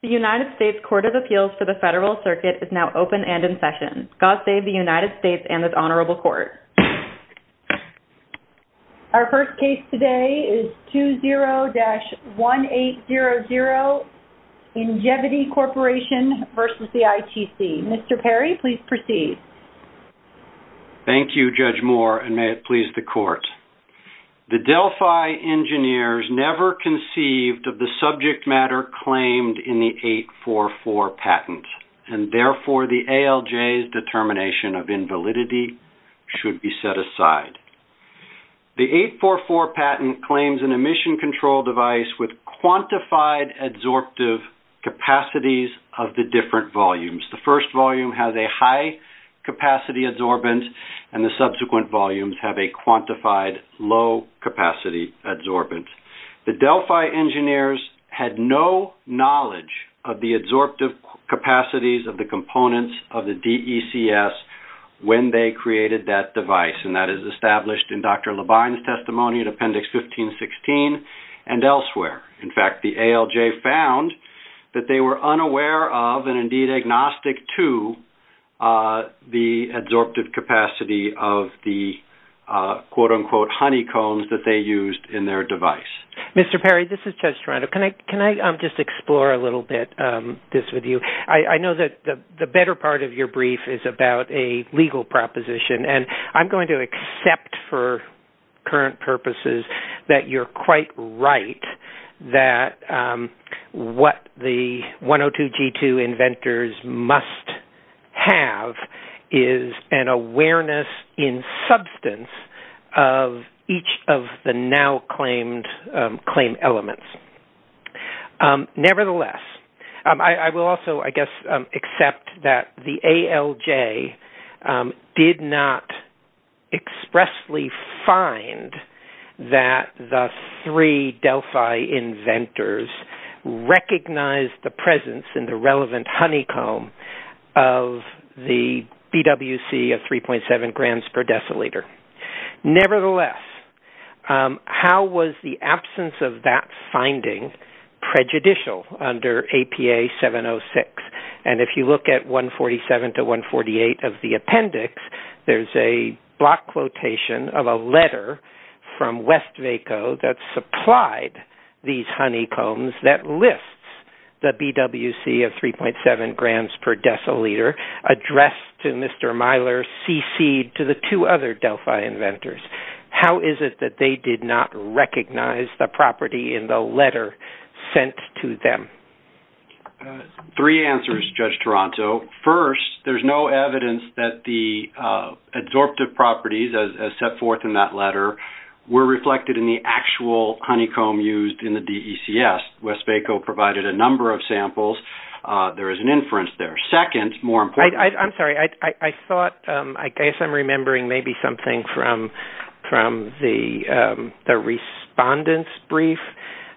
The United States Court of Appeals for the Federal Circuit is now open and in session. God save the United States and this Honorable Court. Our first case today is 20-1800 Ingevity Corporation v. ITC. Mr. Perry, please proceed. Thank you, Judge Moore, and may it please the Court. The Delphi engineers never conceived of the subject matter claimed in the 844 patent, and therefore the ALJ's determination of invalidity should be set aside. The 844 patent claims an emission control device with quantified adsorptive capacities of the different volumes. The first volume has a high-capacity adsorbent, and the subsequent volumes have a quantified low-capacity adsorbent. The Delphi engineers had no knowledge of the adsorptive capacities of the components of the DECS when they created that device, and that is established in Dr. Labine's testimony in Appendix 1516 and elsewhere. In fact, the ALJ found that they were unaware of, and indeed agnostic to, the adsorptive capacity of the quote-unquote honeycombs that they used in their device. Mr. Perry, this is Judge Toronto. Can I just explore a little bit this with you? I know that the better part of your brief is about a legal proposition, and I'm going to accept for current purposes that you're quite right that what the 102-G2 inventors must have is an awareness in substance of each of the now-claimed claim elements. Nevertheless, I will also, I guess, accept that the ALJ did not expressly find that the three Delphi inventors recognized the presence in the relevant honeycomb of the BWC of 3.7 grams per deciliter. Nevertheless, how was the absence of that finding prejudicial under APA 706? And if you look at 147-148 of the appendix, there's a block quotation of a letter from Westvaco that supplied these honeycombs that lists the BWC of 3.7 grams per deciliter addressed to Mr. Myler, cc'd to the two other Delphi inventors. How is it that they did not recognize the property in the letter sent to them? Three answers, Judge Toronto. First, there's no evidence that the absorptive properties as set forth in that letter were reflected in the actual honeycomb used in the DECS. Westvaco provided a number of samples. There is an inference there. Second, more importantly- I'm sorry, I thought, I guess I'm remembering maybe something from the respondents' brief,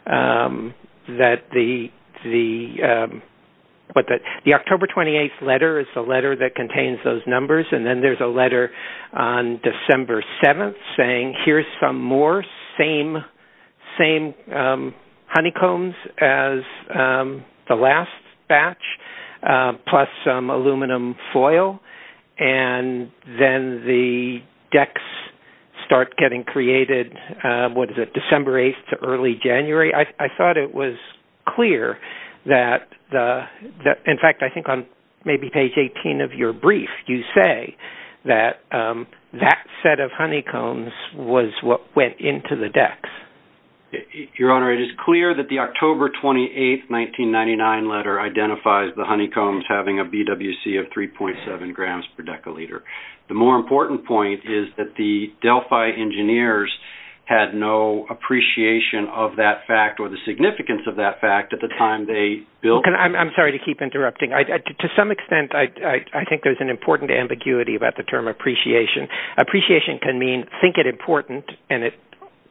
that the October 28th letter is the letter that contains those numbers, and then there's a letter on December 7th saying, here's some more same honeycombs as the last batch, plus some aluminum foil, and then the DECS start getting created, what is it, December 8th to early January. I thought it was clear that-in fact, I think on maybe page 18 of your brief, you say that that set of honeycombs was what went into the DECS. Your Honor, it is clear that the October 28th, 1999 letter identifies the honeycombs having a BWC of 3.7 grams per decaliter. The more important point is that the Delphi engineers had no appreciation of that fact or the significance of that fact at the time they built- Well, I'm sorry to keep interrupting. To some extent, I think there's an important ambiguity about the term appreciation. Appreciation can mean think it important, and it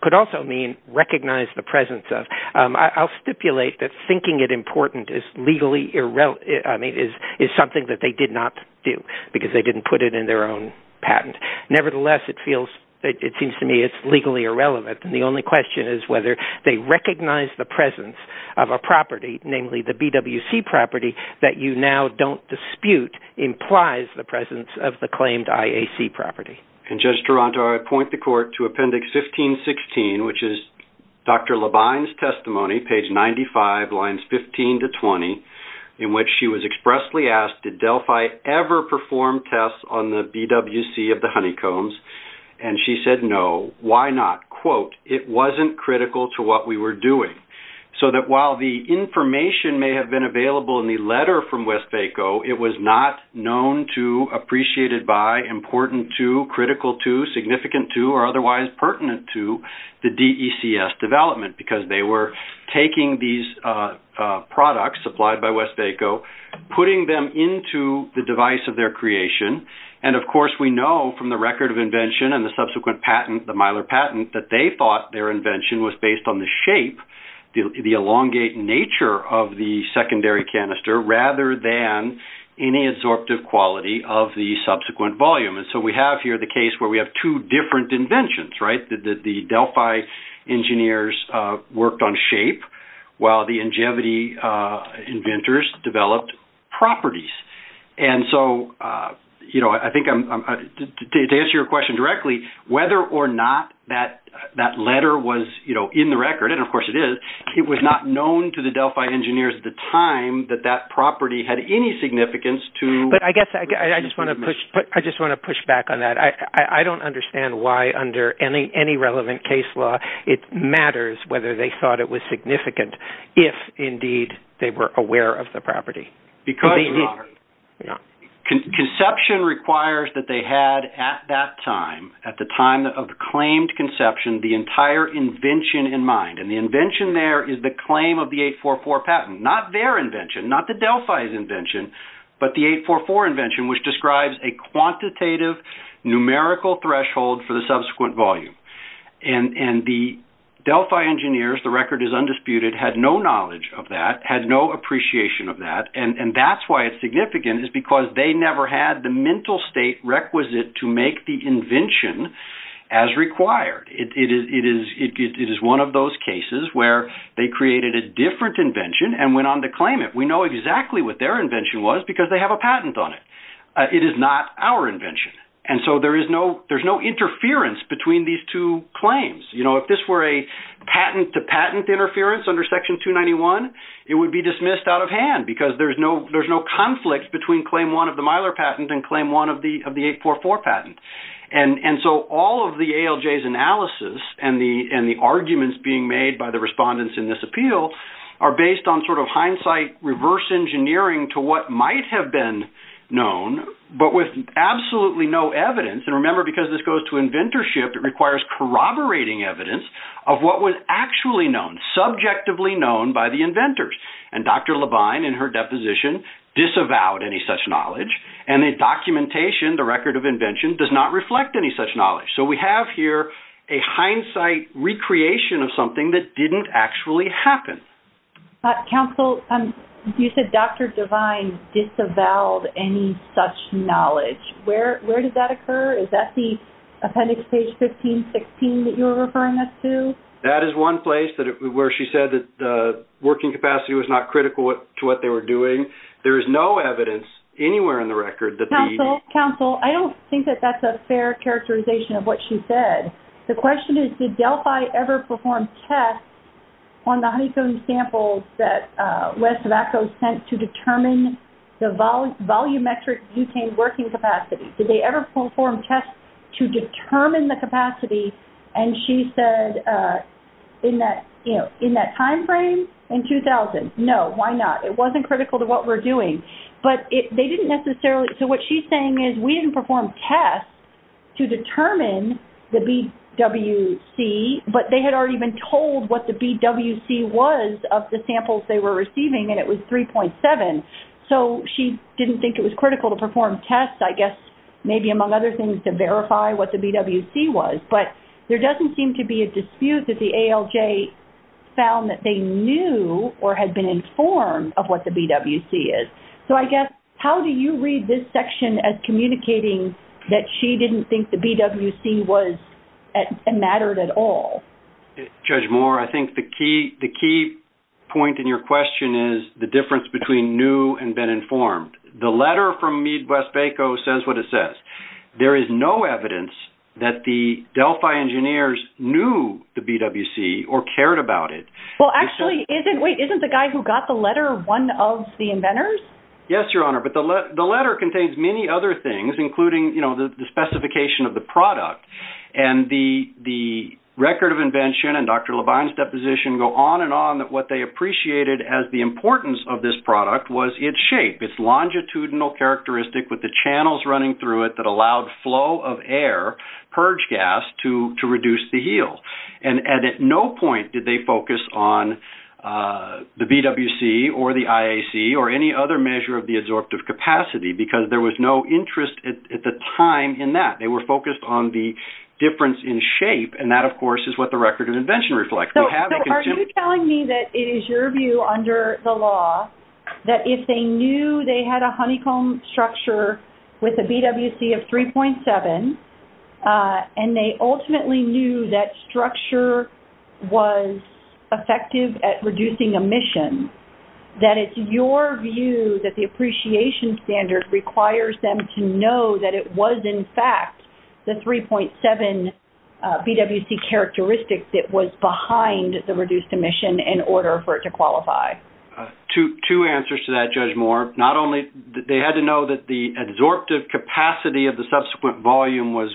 could also mean recognize the presence of. I'll stipulate that thinking it important is something that they did not do, because they didn't put it in their own patent. Nevertheless, it seems to me it's legally irrelevant, and the only question is whether they recognize the presence of a property, namely the BWC property, that you now don't dispute implies the presence of the claimed IAC property. Judge Toronto, I point the Court to Appendix 1516, which is Dr. Labine's testimony, page 95, lines 15 to 20, in which she was expressly asked, did Delphi ever perform tests on the BWC of the honeycombs? And she said no. Why not? Quote, it wasn't critical to what we were doing. So that while the information may have been available in the letter from Westvaco, it was not known to, appreciated by, important to, critical to, significant to, or otherwise pertinent to the DECS development, because they were taking these products supplied by Westvaco, putting them into the device of their creation, and of course we know from the record of invention and the subsequent patent, the Mylar patent, that they thought their invention was based on the shape, the elongate nature of the secondary canister, rather than any absorptive quality of the subsequent volume. And so we have here the case where we have two different inventions, right? The Delphi engineers worked on shape, while the Ingevity inventors developed properties. And so I think to answer your question directly, whether or not that letter was in the record, and of course it is, it was not known to the Delphi engineers at the time that that property had any significance to... But I guess I just want to push back on that. I don't understand why under any relevant case law it matters whether they thought it was significant if indeed they were aware of the property. Because conception requires that they had at that time, at the time of the claimed conception, the entire invention in mind. And the invention there is the claim of the 844 patent. Not their invention, not the Delphi's invention, but the 844 invention, which describes a quantitative, numerical threshold for the subsequent volume. And the Delphi engineers, the record is undisputed, had no knowledge of that, had no appreciation of that, and that's why it's significant, is because they never had the mental state requisite to make the invention as required. It is one of those cases where they created a different invention and went on to claim it. We know exactly what their invention was because they have a patent on it. It is not our invention. And so there's no interference between these two claims. You know, if this were a patent-to-patent interference under Section 291, it would be dismissed out of hand because there's no conflict between Claim 1 of the Mylar patent and Claim 1 of the 844 patent. And so all of the ALJ's analysis and the arguments being made by the respondents in this appeal are based on sort of hindsight reverse engineering to what might have been known, but with absolutely no evidence. And remember, because this goes to inventorship, it requires corroborating evidence of what was actually known, subjectively known, by the inventors. And Dr. Levine, in her deposition, disavowed any such knowledge. And the documentation, the record of invention, does not reflect any such knowledge. So we have here a hindsight recreation of something that didn't actually happen. Counsel, you said Dr. Levine disavowed any such knowledge. Where did that occur? Is that the appendix page 1516 that you were referring us to? That is one place where she said that the working capacity was not critical to what they were doing. There is no evidence anywhere in the record that the... Counsel, I don't think that that's a fair characterization of what she said. The question is, did Delphi ever perform tests on the honeycomb samples that Wes Zavacko sent to determine the volumetric butane working capacity? Did they ever perform tests to determine the capacity? And she said, in that time frame, in 2000. No, why not? It wasn't critical to what we're doing. But they didn't necessarily... So what she's saying is we didn't perform tests to determine the BWC, but they had already been told what the BWC was of the samples they were receiving, and it was 3.7. So she didn't think it was critical to perform tests, I guess, maybe among other things, to verify what the BWC was. But there doesn't seem to be a dispute that the ALJ found that they knew or had been informed of what the BWC is. So I guess, how do you read this section as communicating that she didn't think the BWC mattered at all? Judge Moore, I think the key point in your question is the difference between knew and been informed. The letter from Meade Wes Zavacko says what it says. There is no evidence that the Delphi engineers knew the BWC or cared about it. Well, actually, isn't the guy who got the letter one of the inventors? Yes, Your Honor, but the letter contains many other things, including the specification of the product. And the record of invention and Dr. Levine's deposition go on and on that what they appreciated as the importance of this product was its shape, its longitudinal characteristic with the channels running through it, that allowed flow of air, purge gas, to reduce the yield. And at no point did they focus on the BWC or the IAC or any other measure of the absorptive capacity because there was no interest at the time in that. They were focused on the difference in shape, and that, of course, is what the record of invention reflects. So are you telling me that it is your view under the law that if they knew they had a honeycomb structure with a BWC of 3.7 and they ultimately knew that structure was effective at reducing emission, that it's your view that the appreciation standard requires them to know that it was, in fact, the 3.7 BWC characteristic that was behind the reduced emission in order for it to qualify? Two answers to that, Judge Moore. They had to know that the absorptive capacity of the subsequent volume was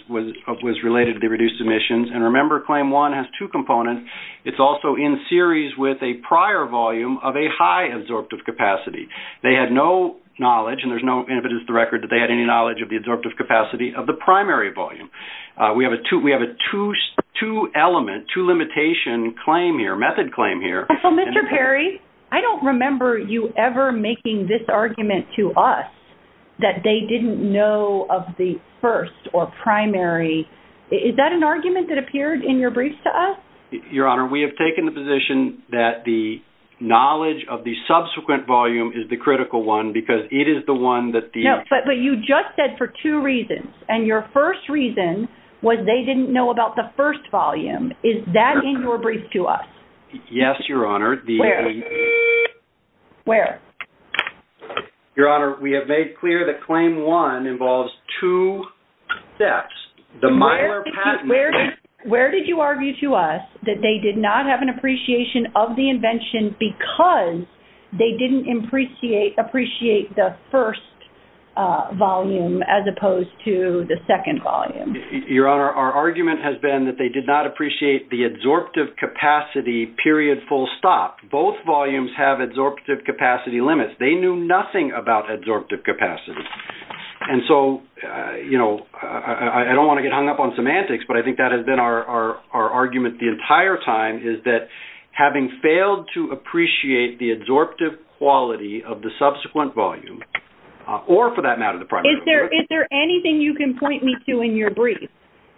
related to the reduced emissions. And remember, Claim 1 has two components. It's also in series with a prior volume of a high absorptive capacity. They had no knowledge, and there's no evidence in the record that they had any knowledge of the absorptive capacity of the primary volume. We have a two-element, two-limitation claim here, method claim here. So, Mr. Perry, I don't remember you ever making this argument to us that they didn't know of the first or primary. Is that an argument that appeared in your briefs to us? Your Honor, we have taken the position that the knowledge of the subsequent volume is the critical one because it is the one that the— No, but you just said for two reasons, and your first reason was they didn't know about the first volume. Is that in your brief to us? Yes, Your Honor. Where? Where? Your Honor, we have made clear that Claim 1 involves two steps. Where did you argue to us that they did not have an appreciation of the invention because they didn't appreciate the first volume as opposed to the second volume? Your Honor, our argument has been that they did not appreciate the adsorptive capacity period full stop. Both volumes have adsorptive capacity limits. They knew nothing about adsorptive capacity. And so, you know, I don't want to get hung up on semantics, but I think that has been our argument the entire time, is that having failed to appreciate the adsorptive quality of the subsequent volume or, for that matter, the primary volume. Is there anything you can point me to in your brief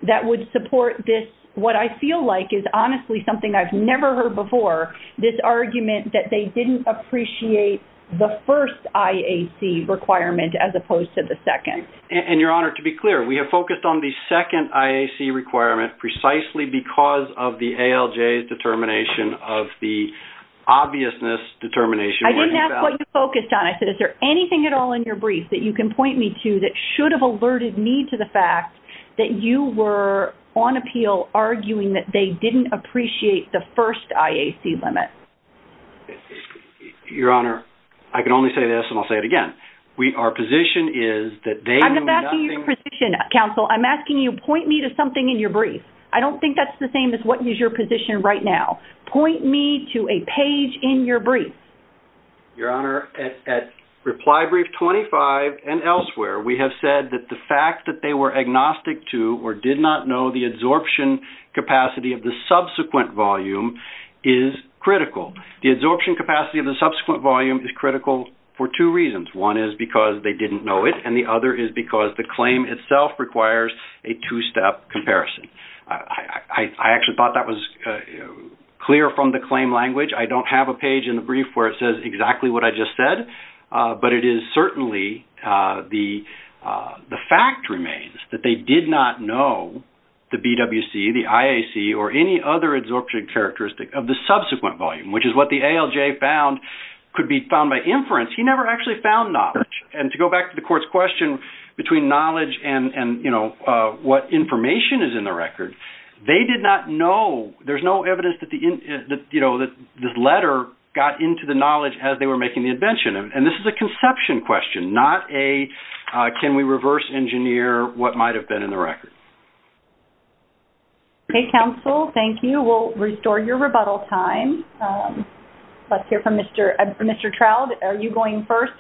that would support this, what I feel like is honestly something I've never heard before, this argument that they didn't appreciate the first IAC requirement as opposed to the second? And, Your Honor, to be clear, we have focused on the second IAC requirement precisely because of the ALJ's determination of the obviousness determination. I didn't ask what you focused on. I said is there anything at all in your brief that you can point me to that should have alerted me to the fact that you were on appeal arguing that they didn't appreciate the first IAC limit? Your Honor, I can only say this, and I'll say it again. Our position is that they knew nothing. I'm not asking your position, counsel. I'm asking you point me to something in your brief. I don't think that's the same as what is your position right now. Point me to a page in your brief. Your Honor, at reply brief 25 and elsewhere, we have said that the fact that they were agnostic to or did not know the adsorption capacity of the subsequent volume is critical. The adsorption capacity of the subsequent volume is critical for two reasons. One is because they didn't know it, and the other is because the claim itself requires a two-step comparison. I actually thought that was clear from the claim language. I don't have a page in the brief where it says exactly what I just said, but it is certainly the fact remains that they did not know the BWC, the IAC, or any other adsorption characteristic of the subsequent volume, which is what the ALJ found could be found by inference. He never actually found knowledge. And to go back to the court's question between knowledge and what information is in the record, they did not know. There's no evidence that this letter got into the knowledge as they were making the invention, and this is a conception question, not a can we reverse engineer what might have been in the record. Okay, counsel, thank you. We'll restore your rebuttal time. Let's hear from Mr. Trout. Are you going first?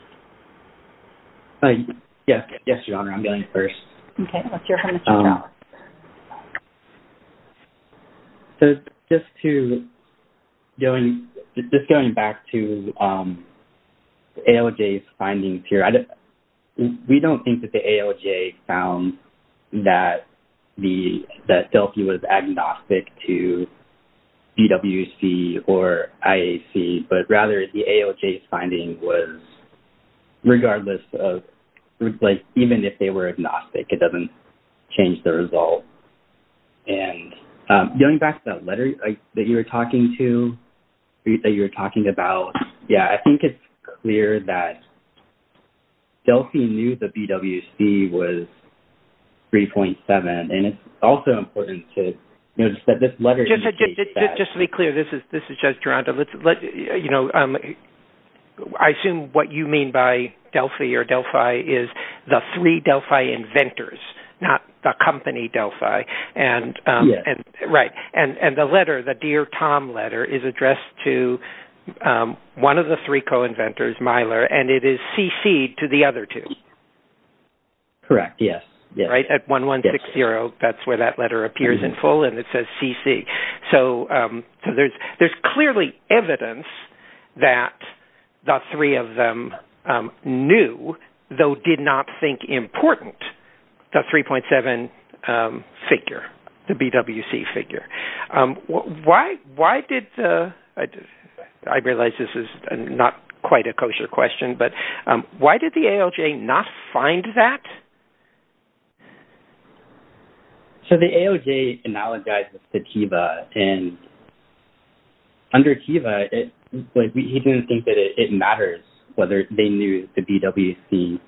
Yes, Your Honor, I'm going first. Okay, let's hear from Mr. Trout. So just going back to ALJ's findings here, we don't think that the ALJ found that Delphi was agnostic to BWC or IAC, but rather the ALJ's finding was regardless of, like, even if they were agnostic, it doesn't change the result. And going back to that letter that you were talking to, that you were talking about, yeah, I think it's clear that Delphi knew that BWC was 3.7, and it's also important to notice that this letter indicates that. Just to be clear, this is Judge Durando. I assume what you mean by Delphi or Delphi is the three Delphi inventors, not the company Delphi. Yes. Right. And the letter, the Dear Tom letter, is addressed to one of the three co-inventors, Myler, and it is CC'd to the other two. Correct, yes. Right, at 1160, that's where that letter appears in full, and it says CC. So there's clearly evidence that the three of them knew, though did not think important, the 3.7 figure, the BWC figure. Why did the – I realize this is not quite a kosher question, but why did the ALJ not find that? So the ALJ analogized this to TEVA, and under TEVA, he didn't think that it matters whether they knew the BWC.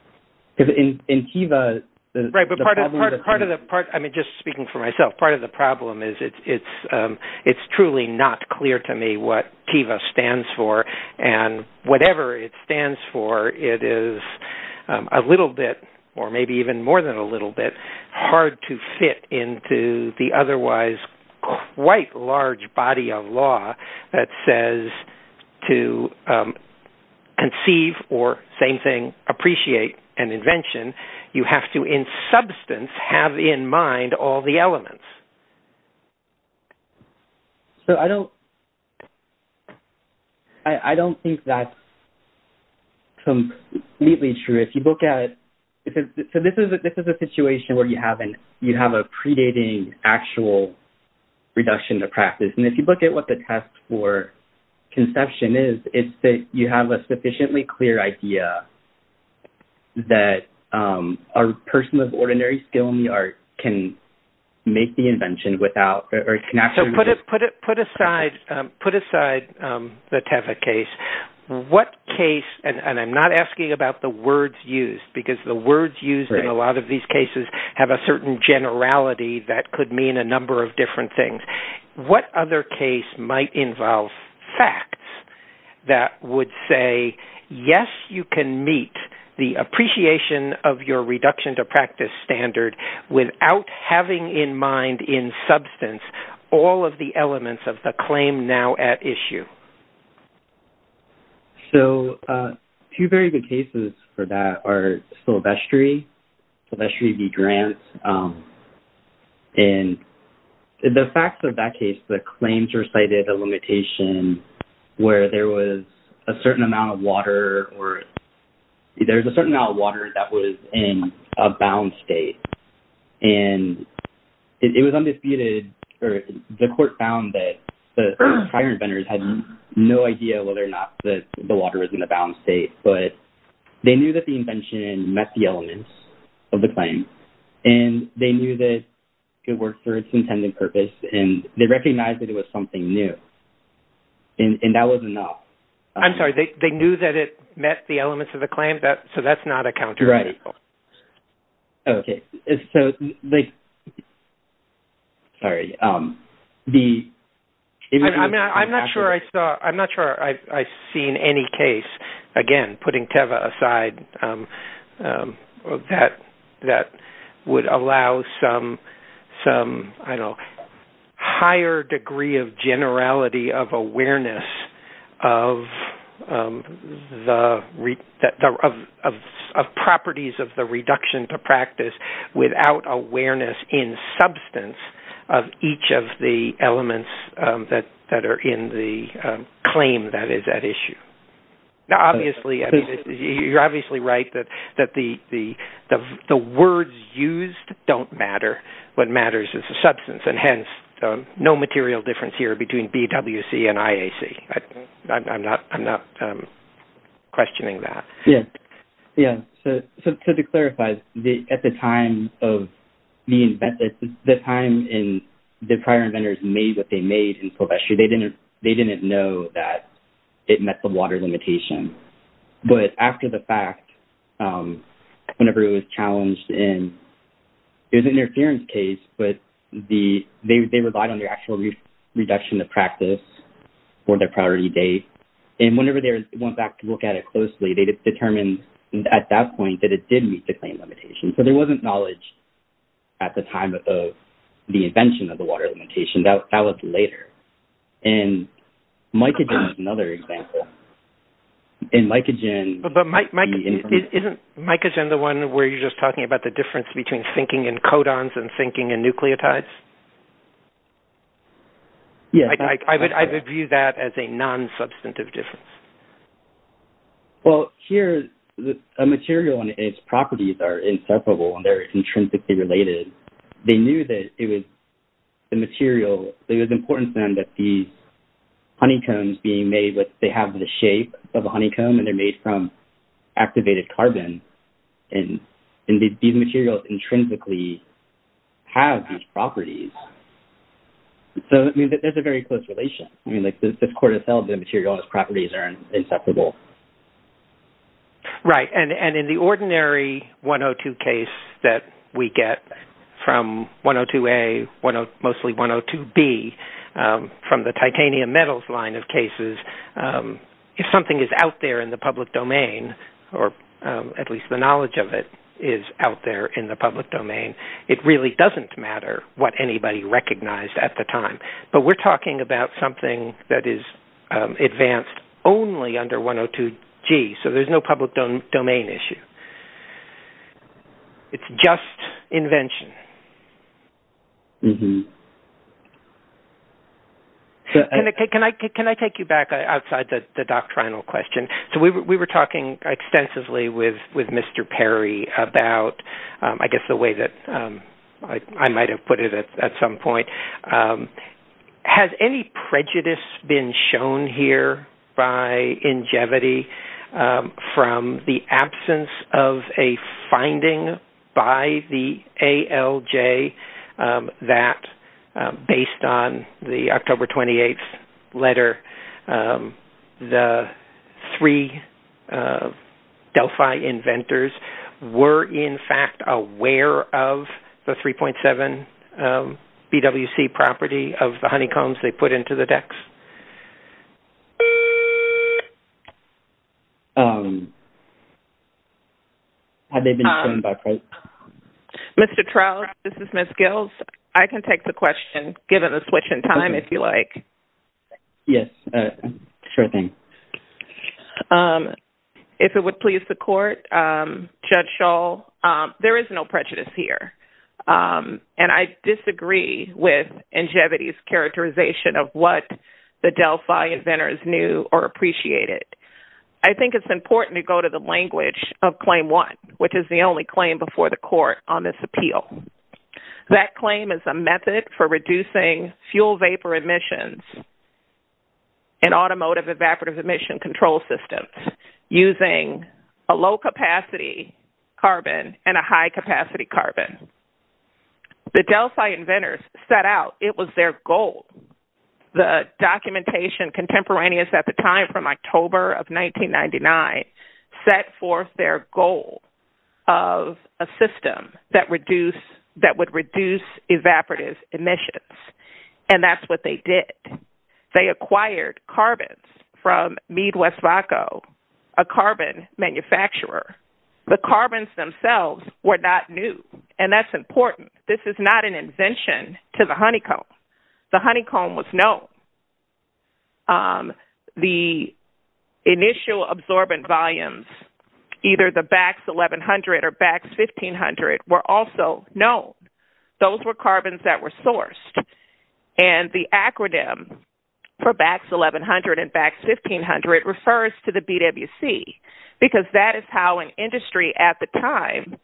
Because in TEVA, the problem is – Right, but part of the – I mean, just speaking for myself, part of the problem is it's truly not clear to me what TEVA stands for, and whatever it stands for, it is a little bit, or maybe even more than a little bit, hard to fit into the otherwise quite large body of law that says to conceive, or same thing, appreciate an invention, you have to in substance have in mind all the elements. So I don't think that's completely true. If you look at – so this is a situation where you have a predating actual reduction to practice. And if you look at what the test for conception is, it's that you have a sufficiently clear idea that a person with ordinary skill in the art can make the invention without – or can actually – So put aside the TEVA case. What case – and I'm not asking about the words used, because the words used in a lot of these cases have a certain generality that could mean a number of different things. What other case might involve facts that would say, yes, you can meet the appreciation of your reduction to practice standard without having in mind in substance all of the elements of the claim now at issue? So two very good cases for that are Silvestri, Silvestri v. Grant. And the facts of that case, the claims recited a limitation where there was a certain amount of water or – there's a certain amount of water that was in a bound state. And it was undisputed – or the court found that the prior inventors had no idea whether or not the water was in a bound state. But they knew that the invention met the elements of the claim. And they knew that it worked for its intended purpose. And they recognized that it was something new. And that was enough. I'm sorry, they knew that it met the elements of the claim? So that's not a counter-argument? Right. Okay. Sorry. I'm not sure I saw – I'm not sure I've seen any case, again, putting Teva aside, that would allow some higher degree of generality, of awareness of properties of the reduction to practice without awareness in substance of each of the elements that are in the claim that is at issue. Now, obviously, you're obviously right that the words used don't matter. What matters is the substance. And hence, no material difference here between BWC and IAC. I'm not questioning that. Yeah. Yeah. So to clarify, at the time of the inventors, the time the prior inventors made what they made in Silvestri, they didn't know that it met the water limitation. But after the fact, whenever it was challenged, and it was an interference case, but they relied on the actual reduction of practice for their priority date. And whenever they went back to look at it closely, they determined at that point that it did meet the claim limitation. So there wasn't knowledge at the time of the invention of the water limitation. That was later. And mycogen is another example. But isn't mycogen the one where you're just talking about the difference between thinking in codons and thinking in nucleotides? Yes. I would view that as a non-substantive difference. Well, here, a material and its properties are inseparable and they're intrinsically related. They knew that it was the material. It was important to them that these honeycombs being made, they have the shape of a honeycomb and they're made from activated carbon. And these materials intrinsically have these properties. So, I mean, there's a very close relation. I mean, like this cortisol, the material and its properties are inseparable. Right. And in the ordinary 102 case that we get from 102A, mostly 102B, from the titanium metals line of cases, if something is out there in the public domain, or at least the knowledge of it is out there in the public domain, it really doesn't matter what anybody recognized at the time. But we're talking about something that is advanced only under 102G. So there's no public domain issue. It's just invention. Can I take you back outside the doctrinal question? So we were talking extensively with Mr. Perry about, I guess, the way that I might have put it at some point. Has any prejudice been shown here by Ingevity from the absence of a finding by the ALJ that, based on the October 28th letter, the three Delphi inventors were, in fact, aware of the 3.7 BWC property of the honeycombs they put into the decks? Mr. Trow, this is Ms. Gills. I can take the question, given the switch in time, if you like. Yes, sure thing. If it would please the Court, Judge Schall, there is no prejudice here. And I disagree with Ingevity's characterization of what the Delphi inventors knew or appreciated. I think it's important to go to the language of Claim 1, which is the only claim before the Court on this appeal. That claim is a method for reducing fuel vapor emissions in automotive evaporative emission control systems using a low-capacity carbon and a high-capacity carbon. The Delphi inventors set out it was their goal. The documentation contemporaneous at the time from October of 1999 set forth their goal of a system that would reduce evaporative emissions. And that's what they did. They acquired carbons from Mead, West Vaco, a carbon manufacturer. The carbons themselves were not new, and that's important. This is not an invention to the honeycomb. The honeycomb was known. The initial absorbent volumes, either the BAX 1100 or BAX 1500, were also known. Those were carbons that were sourced. And the acronym for BAX 1100 and BAX 1500 refers to the BWC because that is how an industry at the time,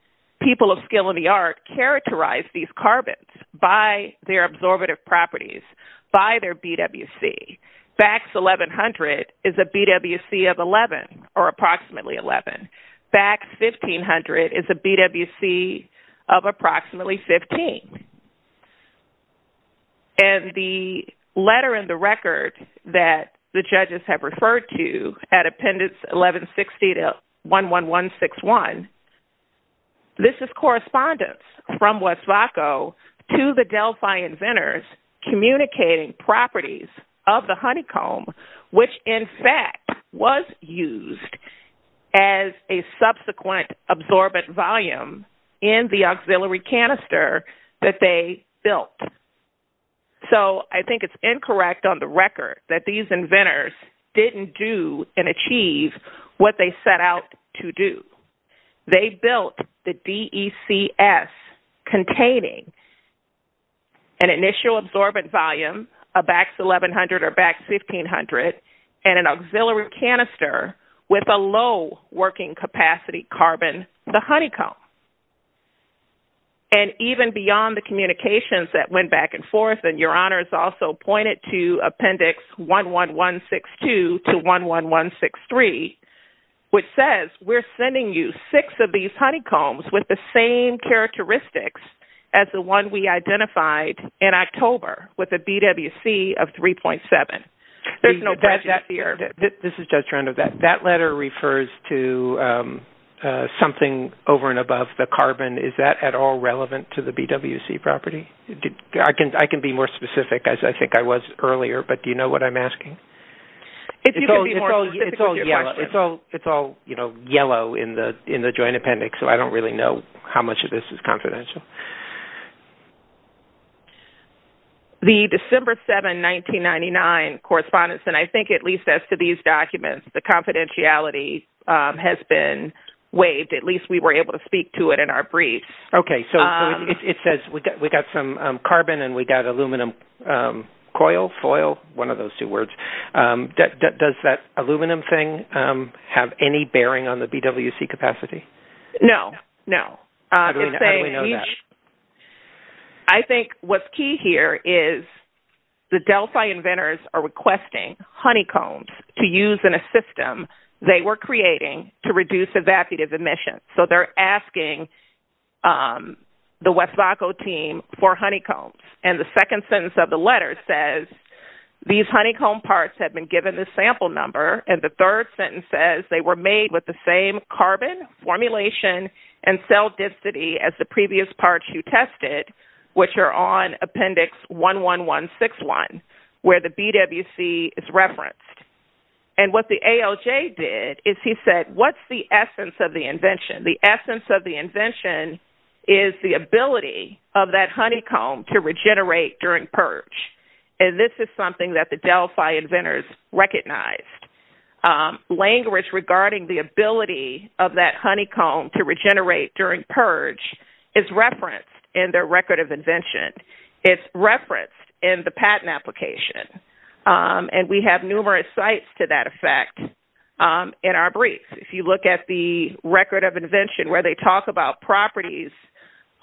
people of skill and the art, characterized these carbons by their absorptive properties, by their BWC. BAX 1100 is a BWC of 11 or approximately 11. BAX 1500 is a BWC of approximately 15. And the letter in the record that the judges have referred to at Appendix 1160 to 11161, this is correspondence from West Vaco to the Delphi inventors communicating properties of the honeycomb, which in fact was used as a subsequent absorbent volume in the auxiliary canister that they built. So I think it's incorrect on the record that these inventors didn't do and achieve what they set out to do. They built the DECS containing an initial absorbent volume, a BAX 1100 or BAX 1500, and an auxiliary canister with a low working capacity carbon, the honeycomb. And even beyond the communications that went back and forth, and Your Honor has also pointed to Appendix 11162 to 11163, which says we're sending you six of these honeycombs with a BWC of 3.7. There's no prejudice here. This is Judge Randall. That letter refers to something over and above the carbon. Is that at all relevant to the BWC property? I can be more specific, as I think I was earlier, but do you know what I'm asking? It's all yellow in the Joint Appendix, so I don't really know how much of this is confidential. The December 7, 1999 correspondence, and I think at least as to these documents, the confidentiality has been waived. At least we were able to speak to it in our brief. Okay. So it says we got some carbon and we got aluminum coil, foil, one of those two words. Does that aluminum thing have any bearing on the BWC capacity? No, no. How do we know that? I think what's key here is the Delphi inventors are requesting honeycombs to use in a system they were creating to reduce evacuative emissions. So they're asking the West Vaco team for honeycombs, and the second sentence of the letter says, these honeycomb parts have been given the sample number, and the third sentence says they were made with the same carbon formulation and cell density as the previous parts you tested, which are on Appendix 11161, where the BWC is referenced. And what the ALJ did is he said, what's the essence of the invention? The essence of the invention is the ability of that honeycomb to regenerate during purge. And this is something that the Delphi inventors recognized. Language regarding the ability of that honeycomb to regenerate during purge is referenced in their record of invention. It's referenced in the patent application, and we have numerous sites to that effect in our brief. If you look at the record of invention where they talk about properties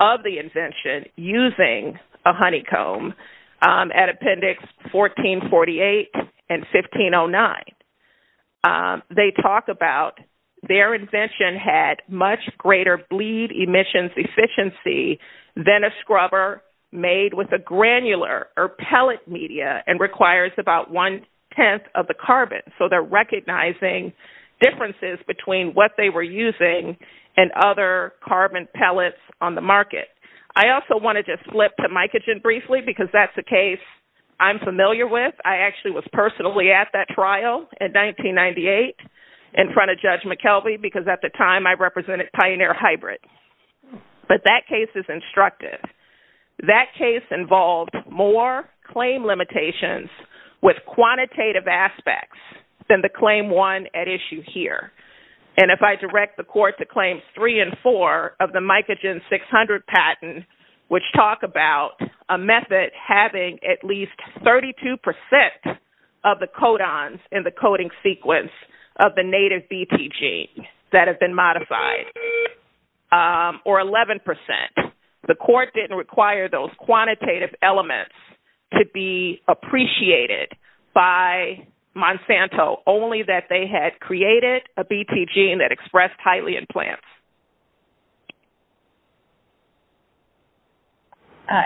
of the invention using a honeycomb at Appendix 1448 and 1509, they talk about their invention had much greater bleed emissions efficiency than a scrubber made with a granular or pellet media and requires about one-tenth of the carbon. So they're recognizing differences between what they were using and other carbon pellets on the market. I also want to just flip to Mycogen briefly because that's a case I'm familiar with. I actually was personally at that trial in 1998 in front of Judge McKelvey because at the time I represented Pioneer Hybrid. But that case is instructive. That case involved more claim limitations with quantitative aspects than the claim won at issue here. And if I direct the court to Claims 3 and 4 of the Mycogen 600 patent, which talk about a method having at least 32% of the codons in the coding sequence of the native BT gene that have been modified, or 11%, the court didn't require those quantitative elements to be appreciated by Monsanto, only that they had created a BT gene that expressed highly in plants.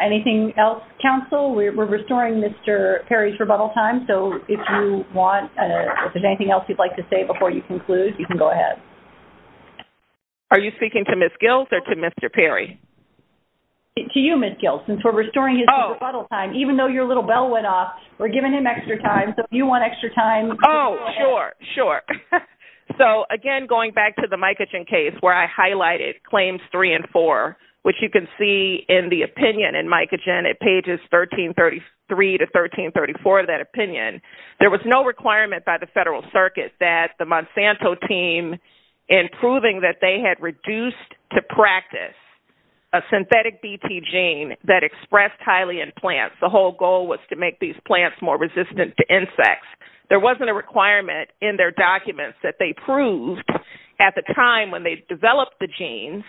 Anything else, counsel? We're restoring Mr. Perry's rebuttal time, so if there's anything else you'd like to say before you conclude, you can go ahead. Are you speaking to Ms. Gills or to Mr. Perry? To you, Ms. Gills. Since we're restoring his rebuttal time, even though your little bell went off, we're giving him extra time, so if you want extra time, go ahead. Oh, sure, sure. So, again, going back to the Mycogen case, where I highlighted Claims 3 and 4, which you can see in the opinion in Mycogen at pages 1333 to 1334 of that opinion, there was no requirement by the federal circuit that the Monsanto team, in proving that they had reduced to practice a synthetic BT gene that expressed highly in plants, the whole goal was to make these plants more resistant to insects. There wasn't a requirement in their documents that they proved, at the time when they developed the genes,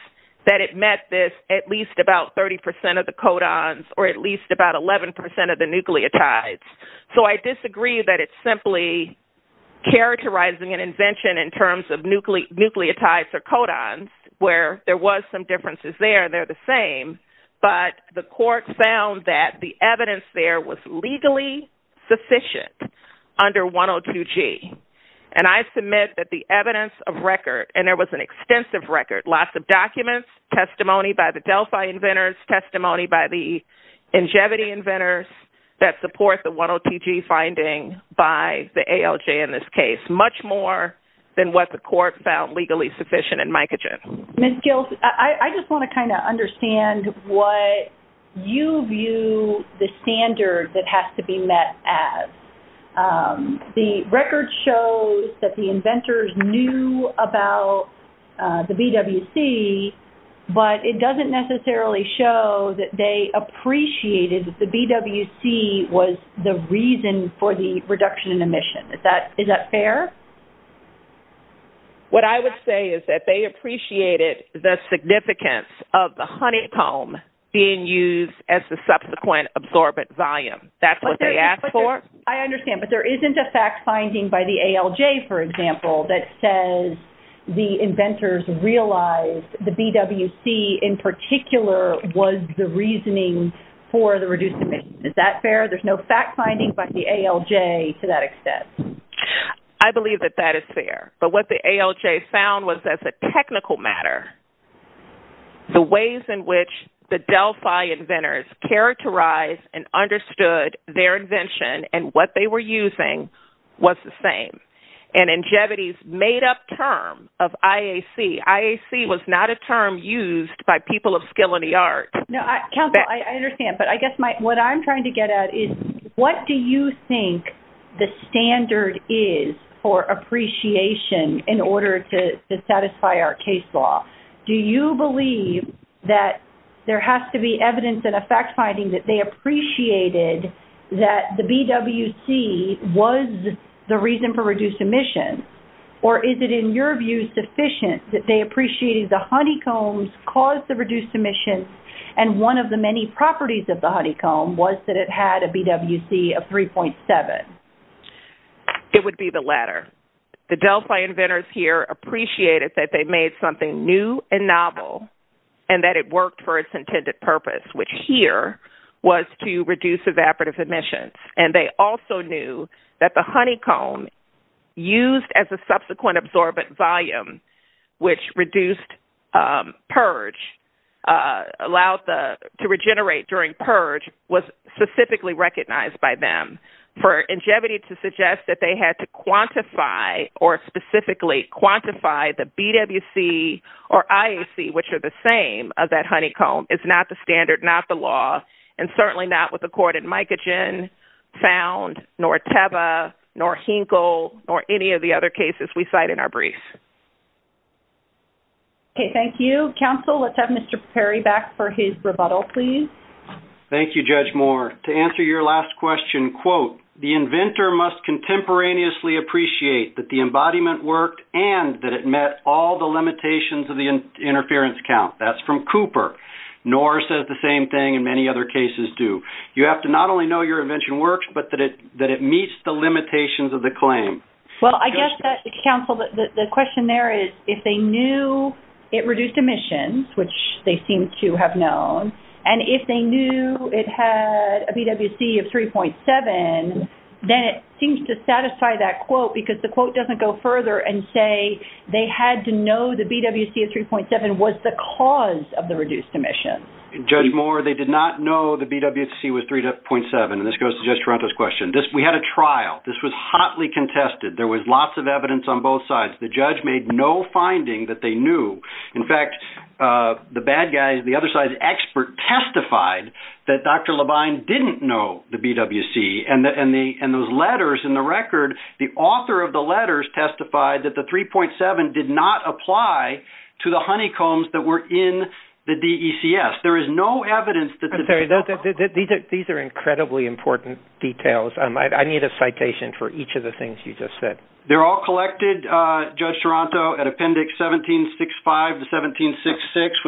that it met this at least about 30% of the codons or at least about 11% of the nucleotides. So I disagree that it's simply characterizing an invention in terms of nucleotides or codons, where there was some differences there. They're the same. But the court found that the evidence there was legally sufficient under 102G. And I submit that the evidence of record, and there was an extensive record, lots of documents, testimony by the Delphi inventors, testimony by the Ingevity inventors, that support the 102G finding by the ALJ in this case, much more than what the court found legally sufficient in Mycogen. Ms. Gills, I just want to kind of understand what you view the standard that has to be met as. The record shows that the inventors knew about the BWC, but it doesn't necessarily show that they appreciated that the BWC was the reason for the reduction in emission. Is that fair? What I would say is that they appreciated the significance of the honeycomb being used as the subsequent absorbent volume. That's what they asked for. I understand. But there isn't a fact finding by the ALJ, for example, that says the inventors realized the BWC, in particular, was the reasoning for the reduced emission. Is that fair? There's no fact finding by the ALJ to that extent. I believe that that is fair. But what the ALJ found was as a technical matter, the ways in which the Delphi inventors characterized and understood their invention and what they were using was the same. And Ingevity's made-up term of IAC, IAC was not a term used by people of skill in the art. No, counsel, I understand. But I guess what I'm trying to get at is what do you think the standard is for appreciation in order to satisfy our case law? Do you believe that there has to be evidence and a fact finding that they appreciated that the BWC was the reason for reduced emission? Or is it, in your view, sufficient that they appreciated the honeycombs caused the reduced emission and one of the many properties of the honeycomb was that it had a BWC of 3.7? It would be the latter. The Delphi inventors here appreciated that they made something new and novel and that it worked for its intended purpose, which here was to reduce evaporative emissions. And they also knew that the honeycomb used as a subsequent absorbent volume, which reduced purge, allowed to regenerate during purge, was specifically recognized by them. For Ingevity to suggest that they had to quantify or specifically quantify the BWC or IAC, which are the same of that honeycomb, is not the standard, not the law, and certainly not what the court in Micogen found, nor Teva, nor Hinkle, nor any of the other cases we cite in our brief. Okay, thank you. Counsel, let's have Mr. Perry back for his rebuttal, please. Thank you, Judge Moore. To answer your last question, quote, the inventor must contemporaneously appreciate that the embodiment worked and that it met all the limitations of the interference count. That's from Cooper. Noor says the same thing, and many other cases do. You have to not only know your invention works, but that it meets the limitations of the claim. Well, I guess, Counsel, the question there is, if they knew it reduced emissions, which they seem to have known, and if they knew it had a BWC of 3.7, then it seems to satisfy that quote because the quote doesn't go further and say they had to know the BWC of 3.7 was the cause of the reduced emission. Judge Moore, they did not know the BWC was 3.7, and this goes to Judge Taranto's question. We had a trial. This was hotly contested. There was lots of evidence on both sides. The judge made no finding that they knew. In fact, the bad guys, the other side's expert, testified that Dr. Levine didn't know the BWC, and those letters in the record, the author of the letters testified that the 3.7 did not apply to the honeycombs that were in the DECS. There is no evidence that the DECS. These are incredibly important details. I need a citation for each of the things you just said. They're all collected, Judge Taranto, at Appendix 1765 to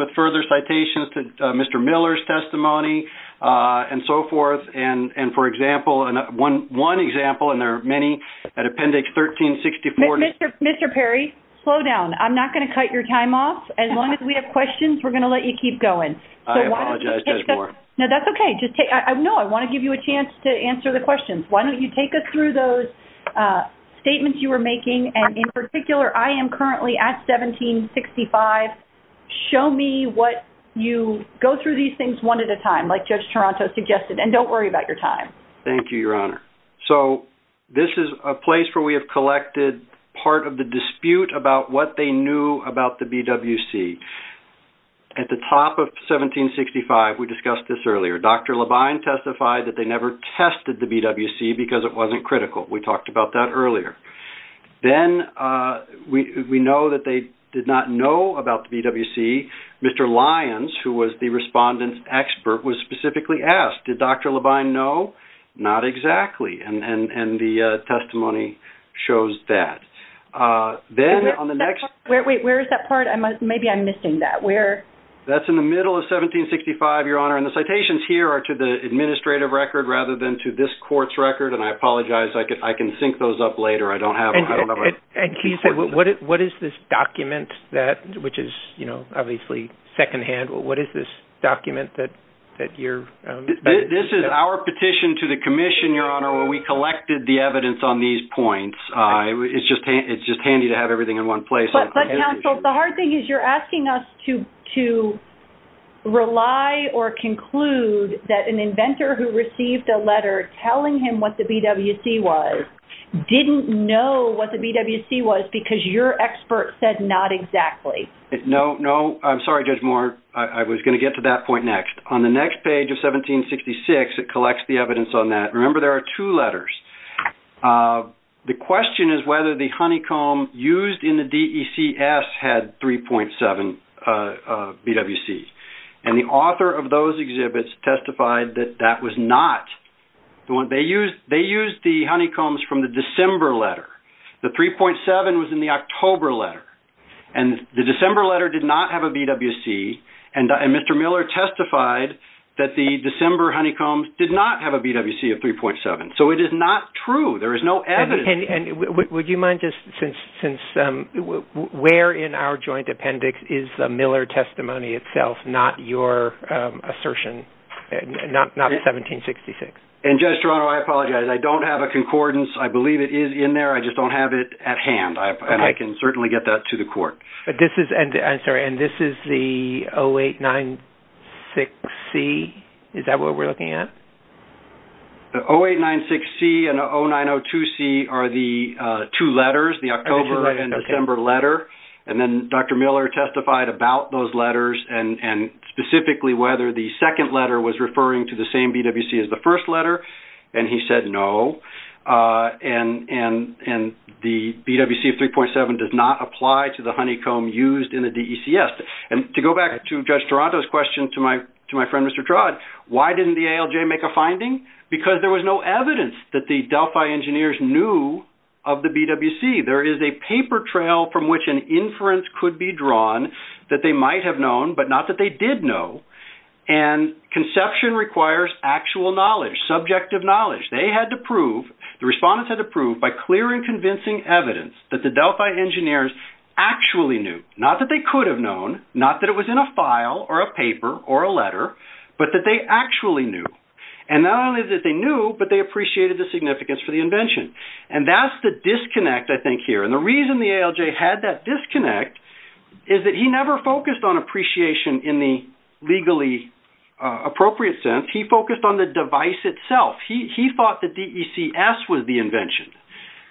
1766 with further citations to Mr. Miller's testimony and so forth. And, for example, one example, and there are many, at Appendix 1364. Mr. Perry, slow down. I'm not going to cut your time off. As long as we have questions, we're going to let you keep going. I apologize, Judge Moore. No, that's okay. No, I want to give you a chance to answer the questions. Why don't you take us through those statements you were making, and in particular, I am currently at 1765. Show me what you go through these things one at a time, like Judge Taranto suggested, and don't worry about your time. Thank you, Your Honor. So this is a place where we have collected part of the dispute about what they knew about the BWC. At the top of 1765, we discussed this earlier, Dr. Labine testified that they never tested the BWC because it wasn't critical. We talked about that earlier. Then we know that they did not know about the BWC. Mr. Lyons, who was the respondent's expert, was specifically asked, did Dr. Labine know? Not exactly, and the testimony shows that. Wait, where is that part? Maybe I'm missing that. That's in the middle of 1765, Your Honor, and the citations here are to the administrative record rather than to this court's record, and I apologize. I can sync those up later. And can you say, what is this document that, which is obviously secondhand, what is this document that you're – This is our petition to the commission, Your Honor, where we collected the evidence on these points. It's just handy to have everything in one place. But, counsel, the hard thing is you're asking us to rely or conclude that an inventor who received a letter telling him what the BWC was didn't know what the BWC was because your expert said not exactly. No, I'm sorry, Judge Moore. I was going to get to that point next. On the next page of 1766, it collects the evidence on that. Remember, there are two letters. The question is whether the honeycomb used in the DECS had 3.7 BWC, and the author of those exhibits testified that that was not the one. They used the honeycombs from the December letter. The 3.7 was in the October letter, and the December letter did not have a BWC, and Mr. Miller testified that the December honeycombs did not have a BWC of 3.7. So it is not true. There is no evidence. Would you mind just since where in our joint appendix is the Miller testimony itself, not your assertion, not 1766? Judge Toronto, I apologize. I don't have a concordance. I believe it is in there. I just don't have it at hand, and I can certainly get that to the court. I'm sorry, and this is the 0896C? Is that what we're looking at? The 0896C and the 0902C are the two letters, the October and December letter, and then Dr. Miller testified about those letters and specifically whether the second letter was referring to the same BWC as the first letter, and he said no, and the BWC of 3.7 does not apply to the honeycomb used in the DECS. And to go back to Judge Toronto's question to my friend Mr. Trod, why didn't the ALJ make a finding? Because there was no evidence that the Delphi engineers knew of the BWC. There is a paper trail from which an inference could be drawn that they might have known, but not that they did know, and conception requires actual knowledge, subjective knowledge. They had to prove, the respondents had to prove by clear and convincing evidence, that the Delphi engineers actually knew, not that they could have known, not that it was in a file or a paper or a letter, but that they actually knew. And not only that they knew, but they appreciated the significance for the invention. And that's the disconnect I think here, and the reason the ALJ had that disconnect is that he never focused on appreciation in the legally appropriate sense. He focused on the device itself. He thought the DECS was the invention.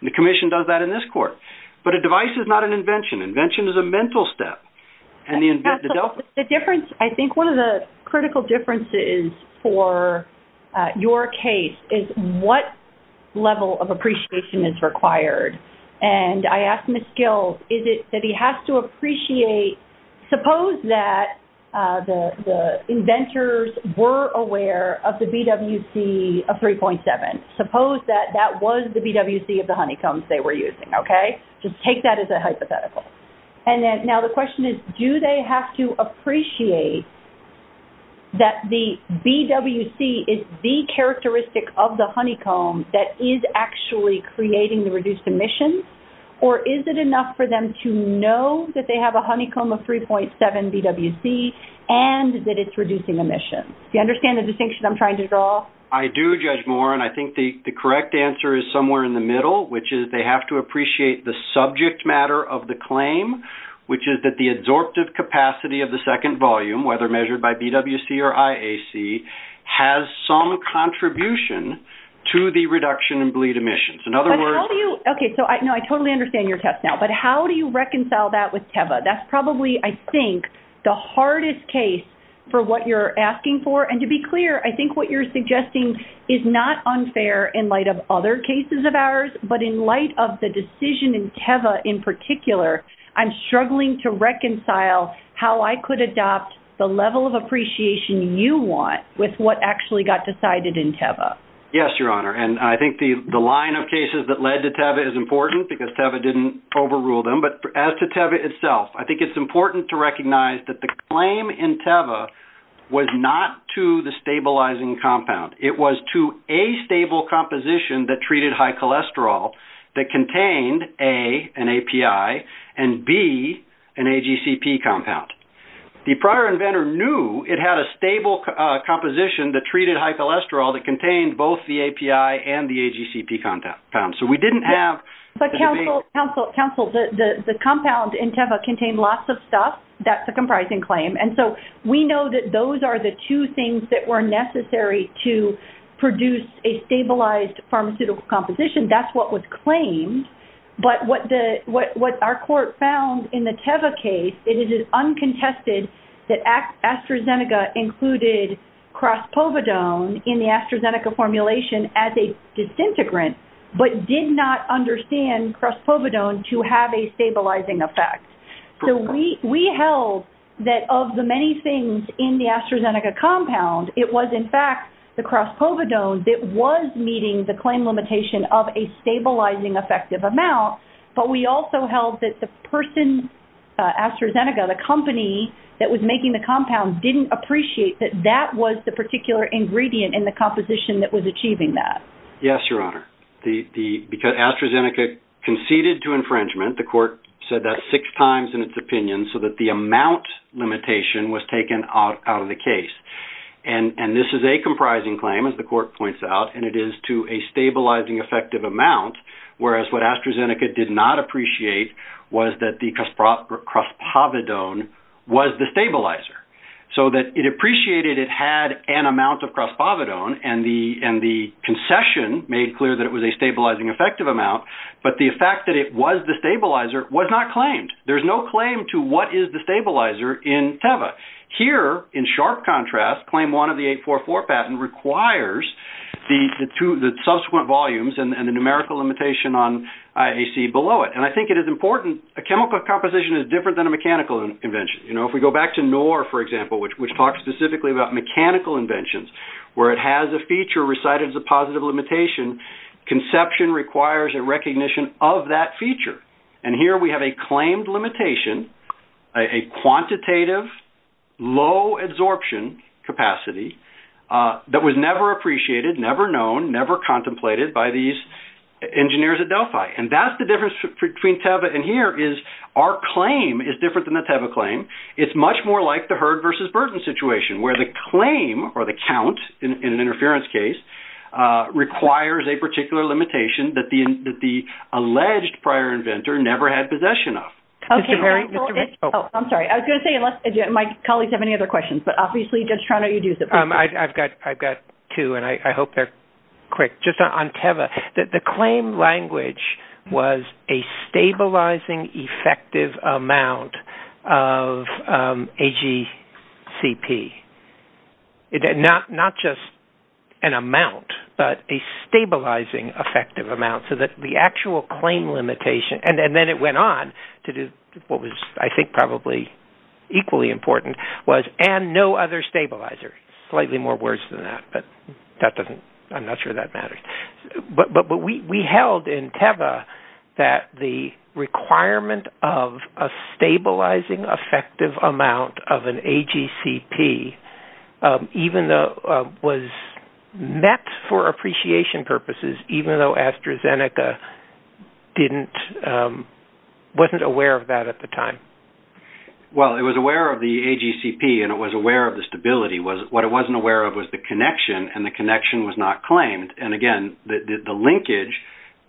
The Commission does that in this court. But a device is not an invention. Invention is a mental step. Absolutely. I think one of the critical differences for your case is what level of appreciation is required. And I asked Ms. Gill, is it that he has to appreciate, suppose that the inventors were aware of the BWC of 3.7. Suppose that that was the BWC of the honeycombs they were using, okay? Just take that as a hypothetical. And now the question is, do they have to appreciate that the BWC is the characteristic of the honeycomb that is actually creating the reduced emissions, or is it enough for them to know that they have a honeycomb of 3.7 BWC and that it's reducing emissions? Do you understand the distinction I'm trying to draw? I do, Judge Moore, and I think the correct answer is somewhere in the middle, which is they have to appreciate the subject matter of the claim, which is that the adsorptive capacity of the second volume, whether measured by BWC or IAC, has some contribution to the reduction in bleed emissions. Okay, so I totally understand your test now. But how do you reconcile that with TEVA? That's probably, I think, the hardest case for what you're asking for. And to be clear, I think what you're suggesting is not unfair in light of other cases of ours, but in light of the decision in TEVA in particular, I'm struggling to reconcile how I could adopt the level of appreciation you want with what actually got decided in TEVA. Yes, Your Honor. And I think the line of cases that led to TEVA is important because TEVA didn't overrule them. But as to TEVA itself, I think it's important to recognize that the claim in TEVA was not to the stabilizing compound. It was to a stable composition that treated high cholesterol that contained A, an API, and B, an AGCP compound. The prior inventor knew it had a stable composition that treated high cholesterol that contained both the API and the AGCP compound. So we didn't have the debate. Counsel, the compound in TEVA contained lots of stuff. That's a comprising claim. And so we know that those are the two things that were necessary to produce a stabilized pharmaceutical composition. That's what was claimed. But what our court found in the TEVA case, it is uncontested that AstraZeneca included Crospovodone in the AstraZeneca formulation as a disintegrant but did not understand Crospovodone to have a stabilizing effect. So we held that of the many things in the AstraZeneca compound, it was in fact the Crospovodone that was meeting the claim limitation of a stabilizing effective amount. But we also held that the person, AstraZeneca, the company that was making the compound, didn't appreciate that that was the particular ingredient in the composition that was achieving that. Yes, Your Honor. Because AstraZeneca conceded to infringement, the court said that six times in its opinion so that the amount limitation was taken out of the case. And this is a comprising claim, as the court points out, and it is to a stabilizing effective amount, whereas what AstraZeneca did not appreciate was that the Crospovodone was the stabilizer. So that it appreciated it had an amount of Crospovodone, and the concession made clear that it was a stabilizing effective amount, but the fact that it was the stabilizer was not claimed. There's no claim to what is the stabilizer in TEVA. Here, in sharp contrast, Claim 1 of the 844 patent requires the subsequent volumes and the numerical limitation on IAC below it. And I think it is important. A chemical composition is different than a mechanical invention. You know, if we go back to NOR, for example, which talks specifically about mechanical inventions, where it has a feature recited as a positive limitation, conception requires a recognition of that feature. And here we have a claimed limitation, a quantitative low absorption capacity that was never appreciated, never known, never contemplated by these engineers at Delphi. And that's the difference between TEVA and here is our claim is different than the TEVA claim. It's much more like the herd versus burden situation, where the claim or the count in an interference case requires a particular limitation that the alleged prior inventor never had possession of. Okay. Oh, I'm sorry. I was going to say unless my colleagues have any other questions, but obviously Judge Trano, you do. I've got two and I hope they're quick. Just on TEVA, the claim language was a stabilizing effective amount of AGCP. Not just an amount, but a stabilizing effective amount, so that the actual claim limitation, and then it went on to do what was I think probably equally important, was and no other stabilizer. Slightly more words than that, but I'm not sure that matters. But we held in TEVA that the requirement of a stabilizing effective amount of an AGCP was met for appreciation purposes, even though AstraZeneca wasn't aware of that at the time. Well, it was aware of the AGCP and it was aware of the stability. What it wasn't aware of was the connection, and the connection was not claimed. And again, the linkage,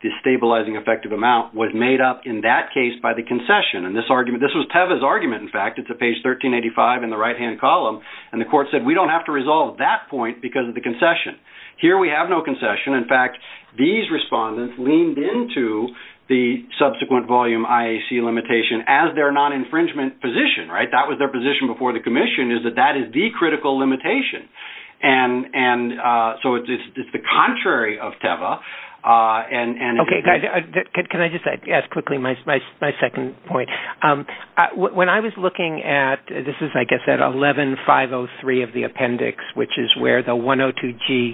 the stabilizing effective amount, was made up in that case by the concession. And this was TEVA's argument, in fact. It's at page 1385 in the right-hand column. And the court said, we don't have to resolve that point because of the concession. Here we have no concession. In fact, these respondents leaned into the subsequent volume IAC limitation as their non-infringement position, right? That was their position before the commission, is that that is the critical limitation. And so it's the contrary of TEVA. Okay, guys, can I just ask quickly my second point? When I was looking at, this is, I guess, at 11503 of the appendix, which is where the 102G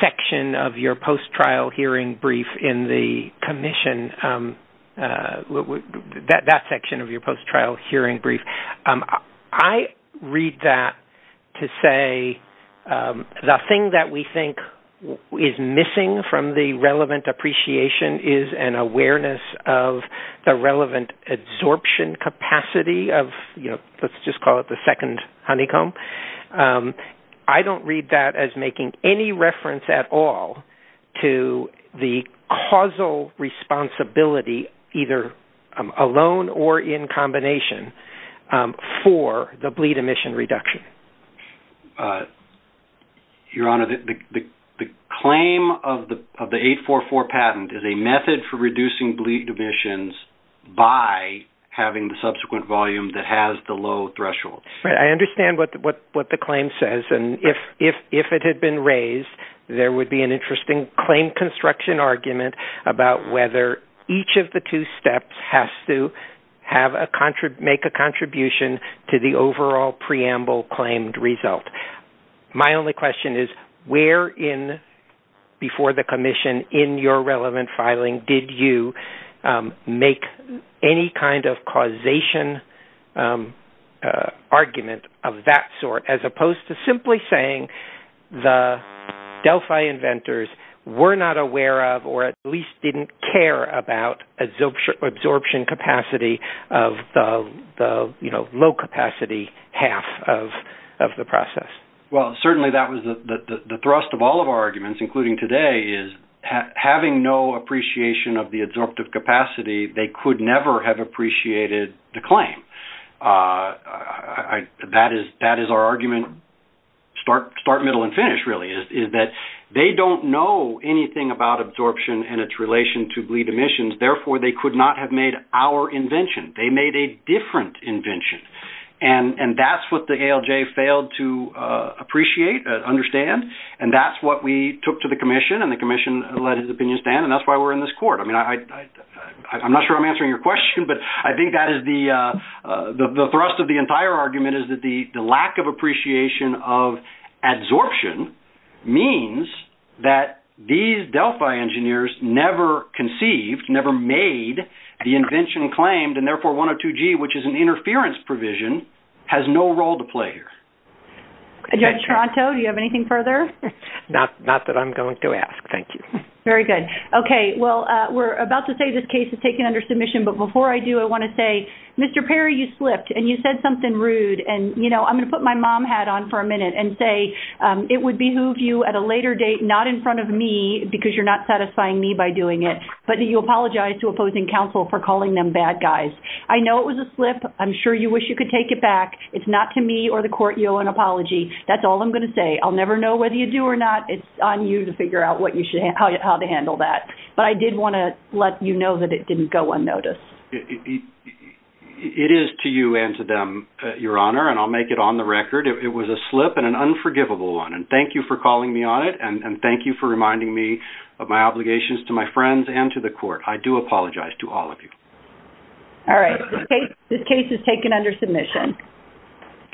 section of your post-trial hearing brief in the commission, that section of your post-trial hearing brief, I read that to say the thing that we think is missing from the relevant appreciation is an awareness of the relevant absorption capacity of, you know, let's just call it the second honeycomb. I don't read that as making any reference at all to the causal responsibility, either alone or in combination, for the bleed emission reduction. Your Honor, the claim of the 844 patent is a method for reducing bleed emissions by having the subsequent volume that has the low threshold. I understand what the claim says. And if it had been raised, there would be an interesting claim construction argument about whether each of the two steps has to make a contribution to the overall preamble claimed result. My only question is, where in, before the commission, in your relevant filing, did you make any kind of causation argument of that sort, as opposed to simply saying the Delphi inventors were not aware of or at least didn't care about absorption capacity of the, you know, low-capacity half of the process? Well, certainly that was the thrust of all of our arguments, including today, is having no appreciation of the absorptive capacity, they could never have appreciated the claim. That is our argument, start, middle, and finish, really, is that they don't know anything about absorption and its relation to bleed emissions, therefore they could not have made our invention. They made a different invention. And that's what the ALJ failed to appreciate, understand, and that's what we took to the commission, and the commission let his opinion stand, and that's why we're in this court. I mean, I'm not sure I'm answering your question, but I think that is the thrust of the entire argument is that the lack of appreciation of adsorption means that these Delphi engineers never conceived, never made the invention claimed, and therefore 102G, which is an interference provision, has no role to play here. Judge Toronto, do you have anything further? Not that I'm going to ask. Thank you. Very good. Okay, well, we're about to say this case is taken under submission, but before I do, I want to say, Mr. Perry, you slipped, and you said something rude, and, you know, I'm going to put my mom hat on for a minute and say it would behoove you at a later date, not in front of me, because you're not satisfying me by doing it, but you apologized to opposing counsel for calling them bad guys. I know it was a slip. I'm sure you wish you could take it back. It's not to me or the court you owe an apology. That's all I'm going to say. I'll never know whether you do or not. It's on you to figure out how to handle that, but I did want to let you know that it didn't go unnoticed. It is to you and to them, Your Honor, and I'll make it on the record. It was a slip and an unforgivable one, and thank you for calling me on it, and thank you for reminding me of my obligations to my friends and to the court. I do apologize to all of you. All right. This case is taken under submission.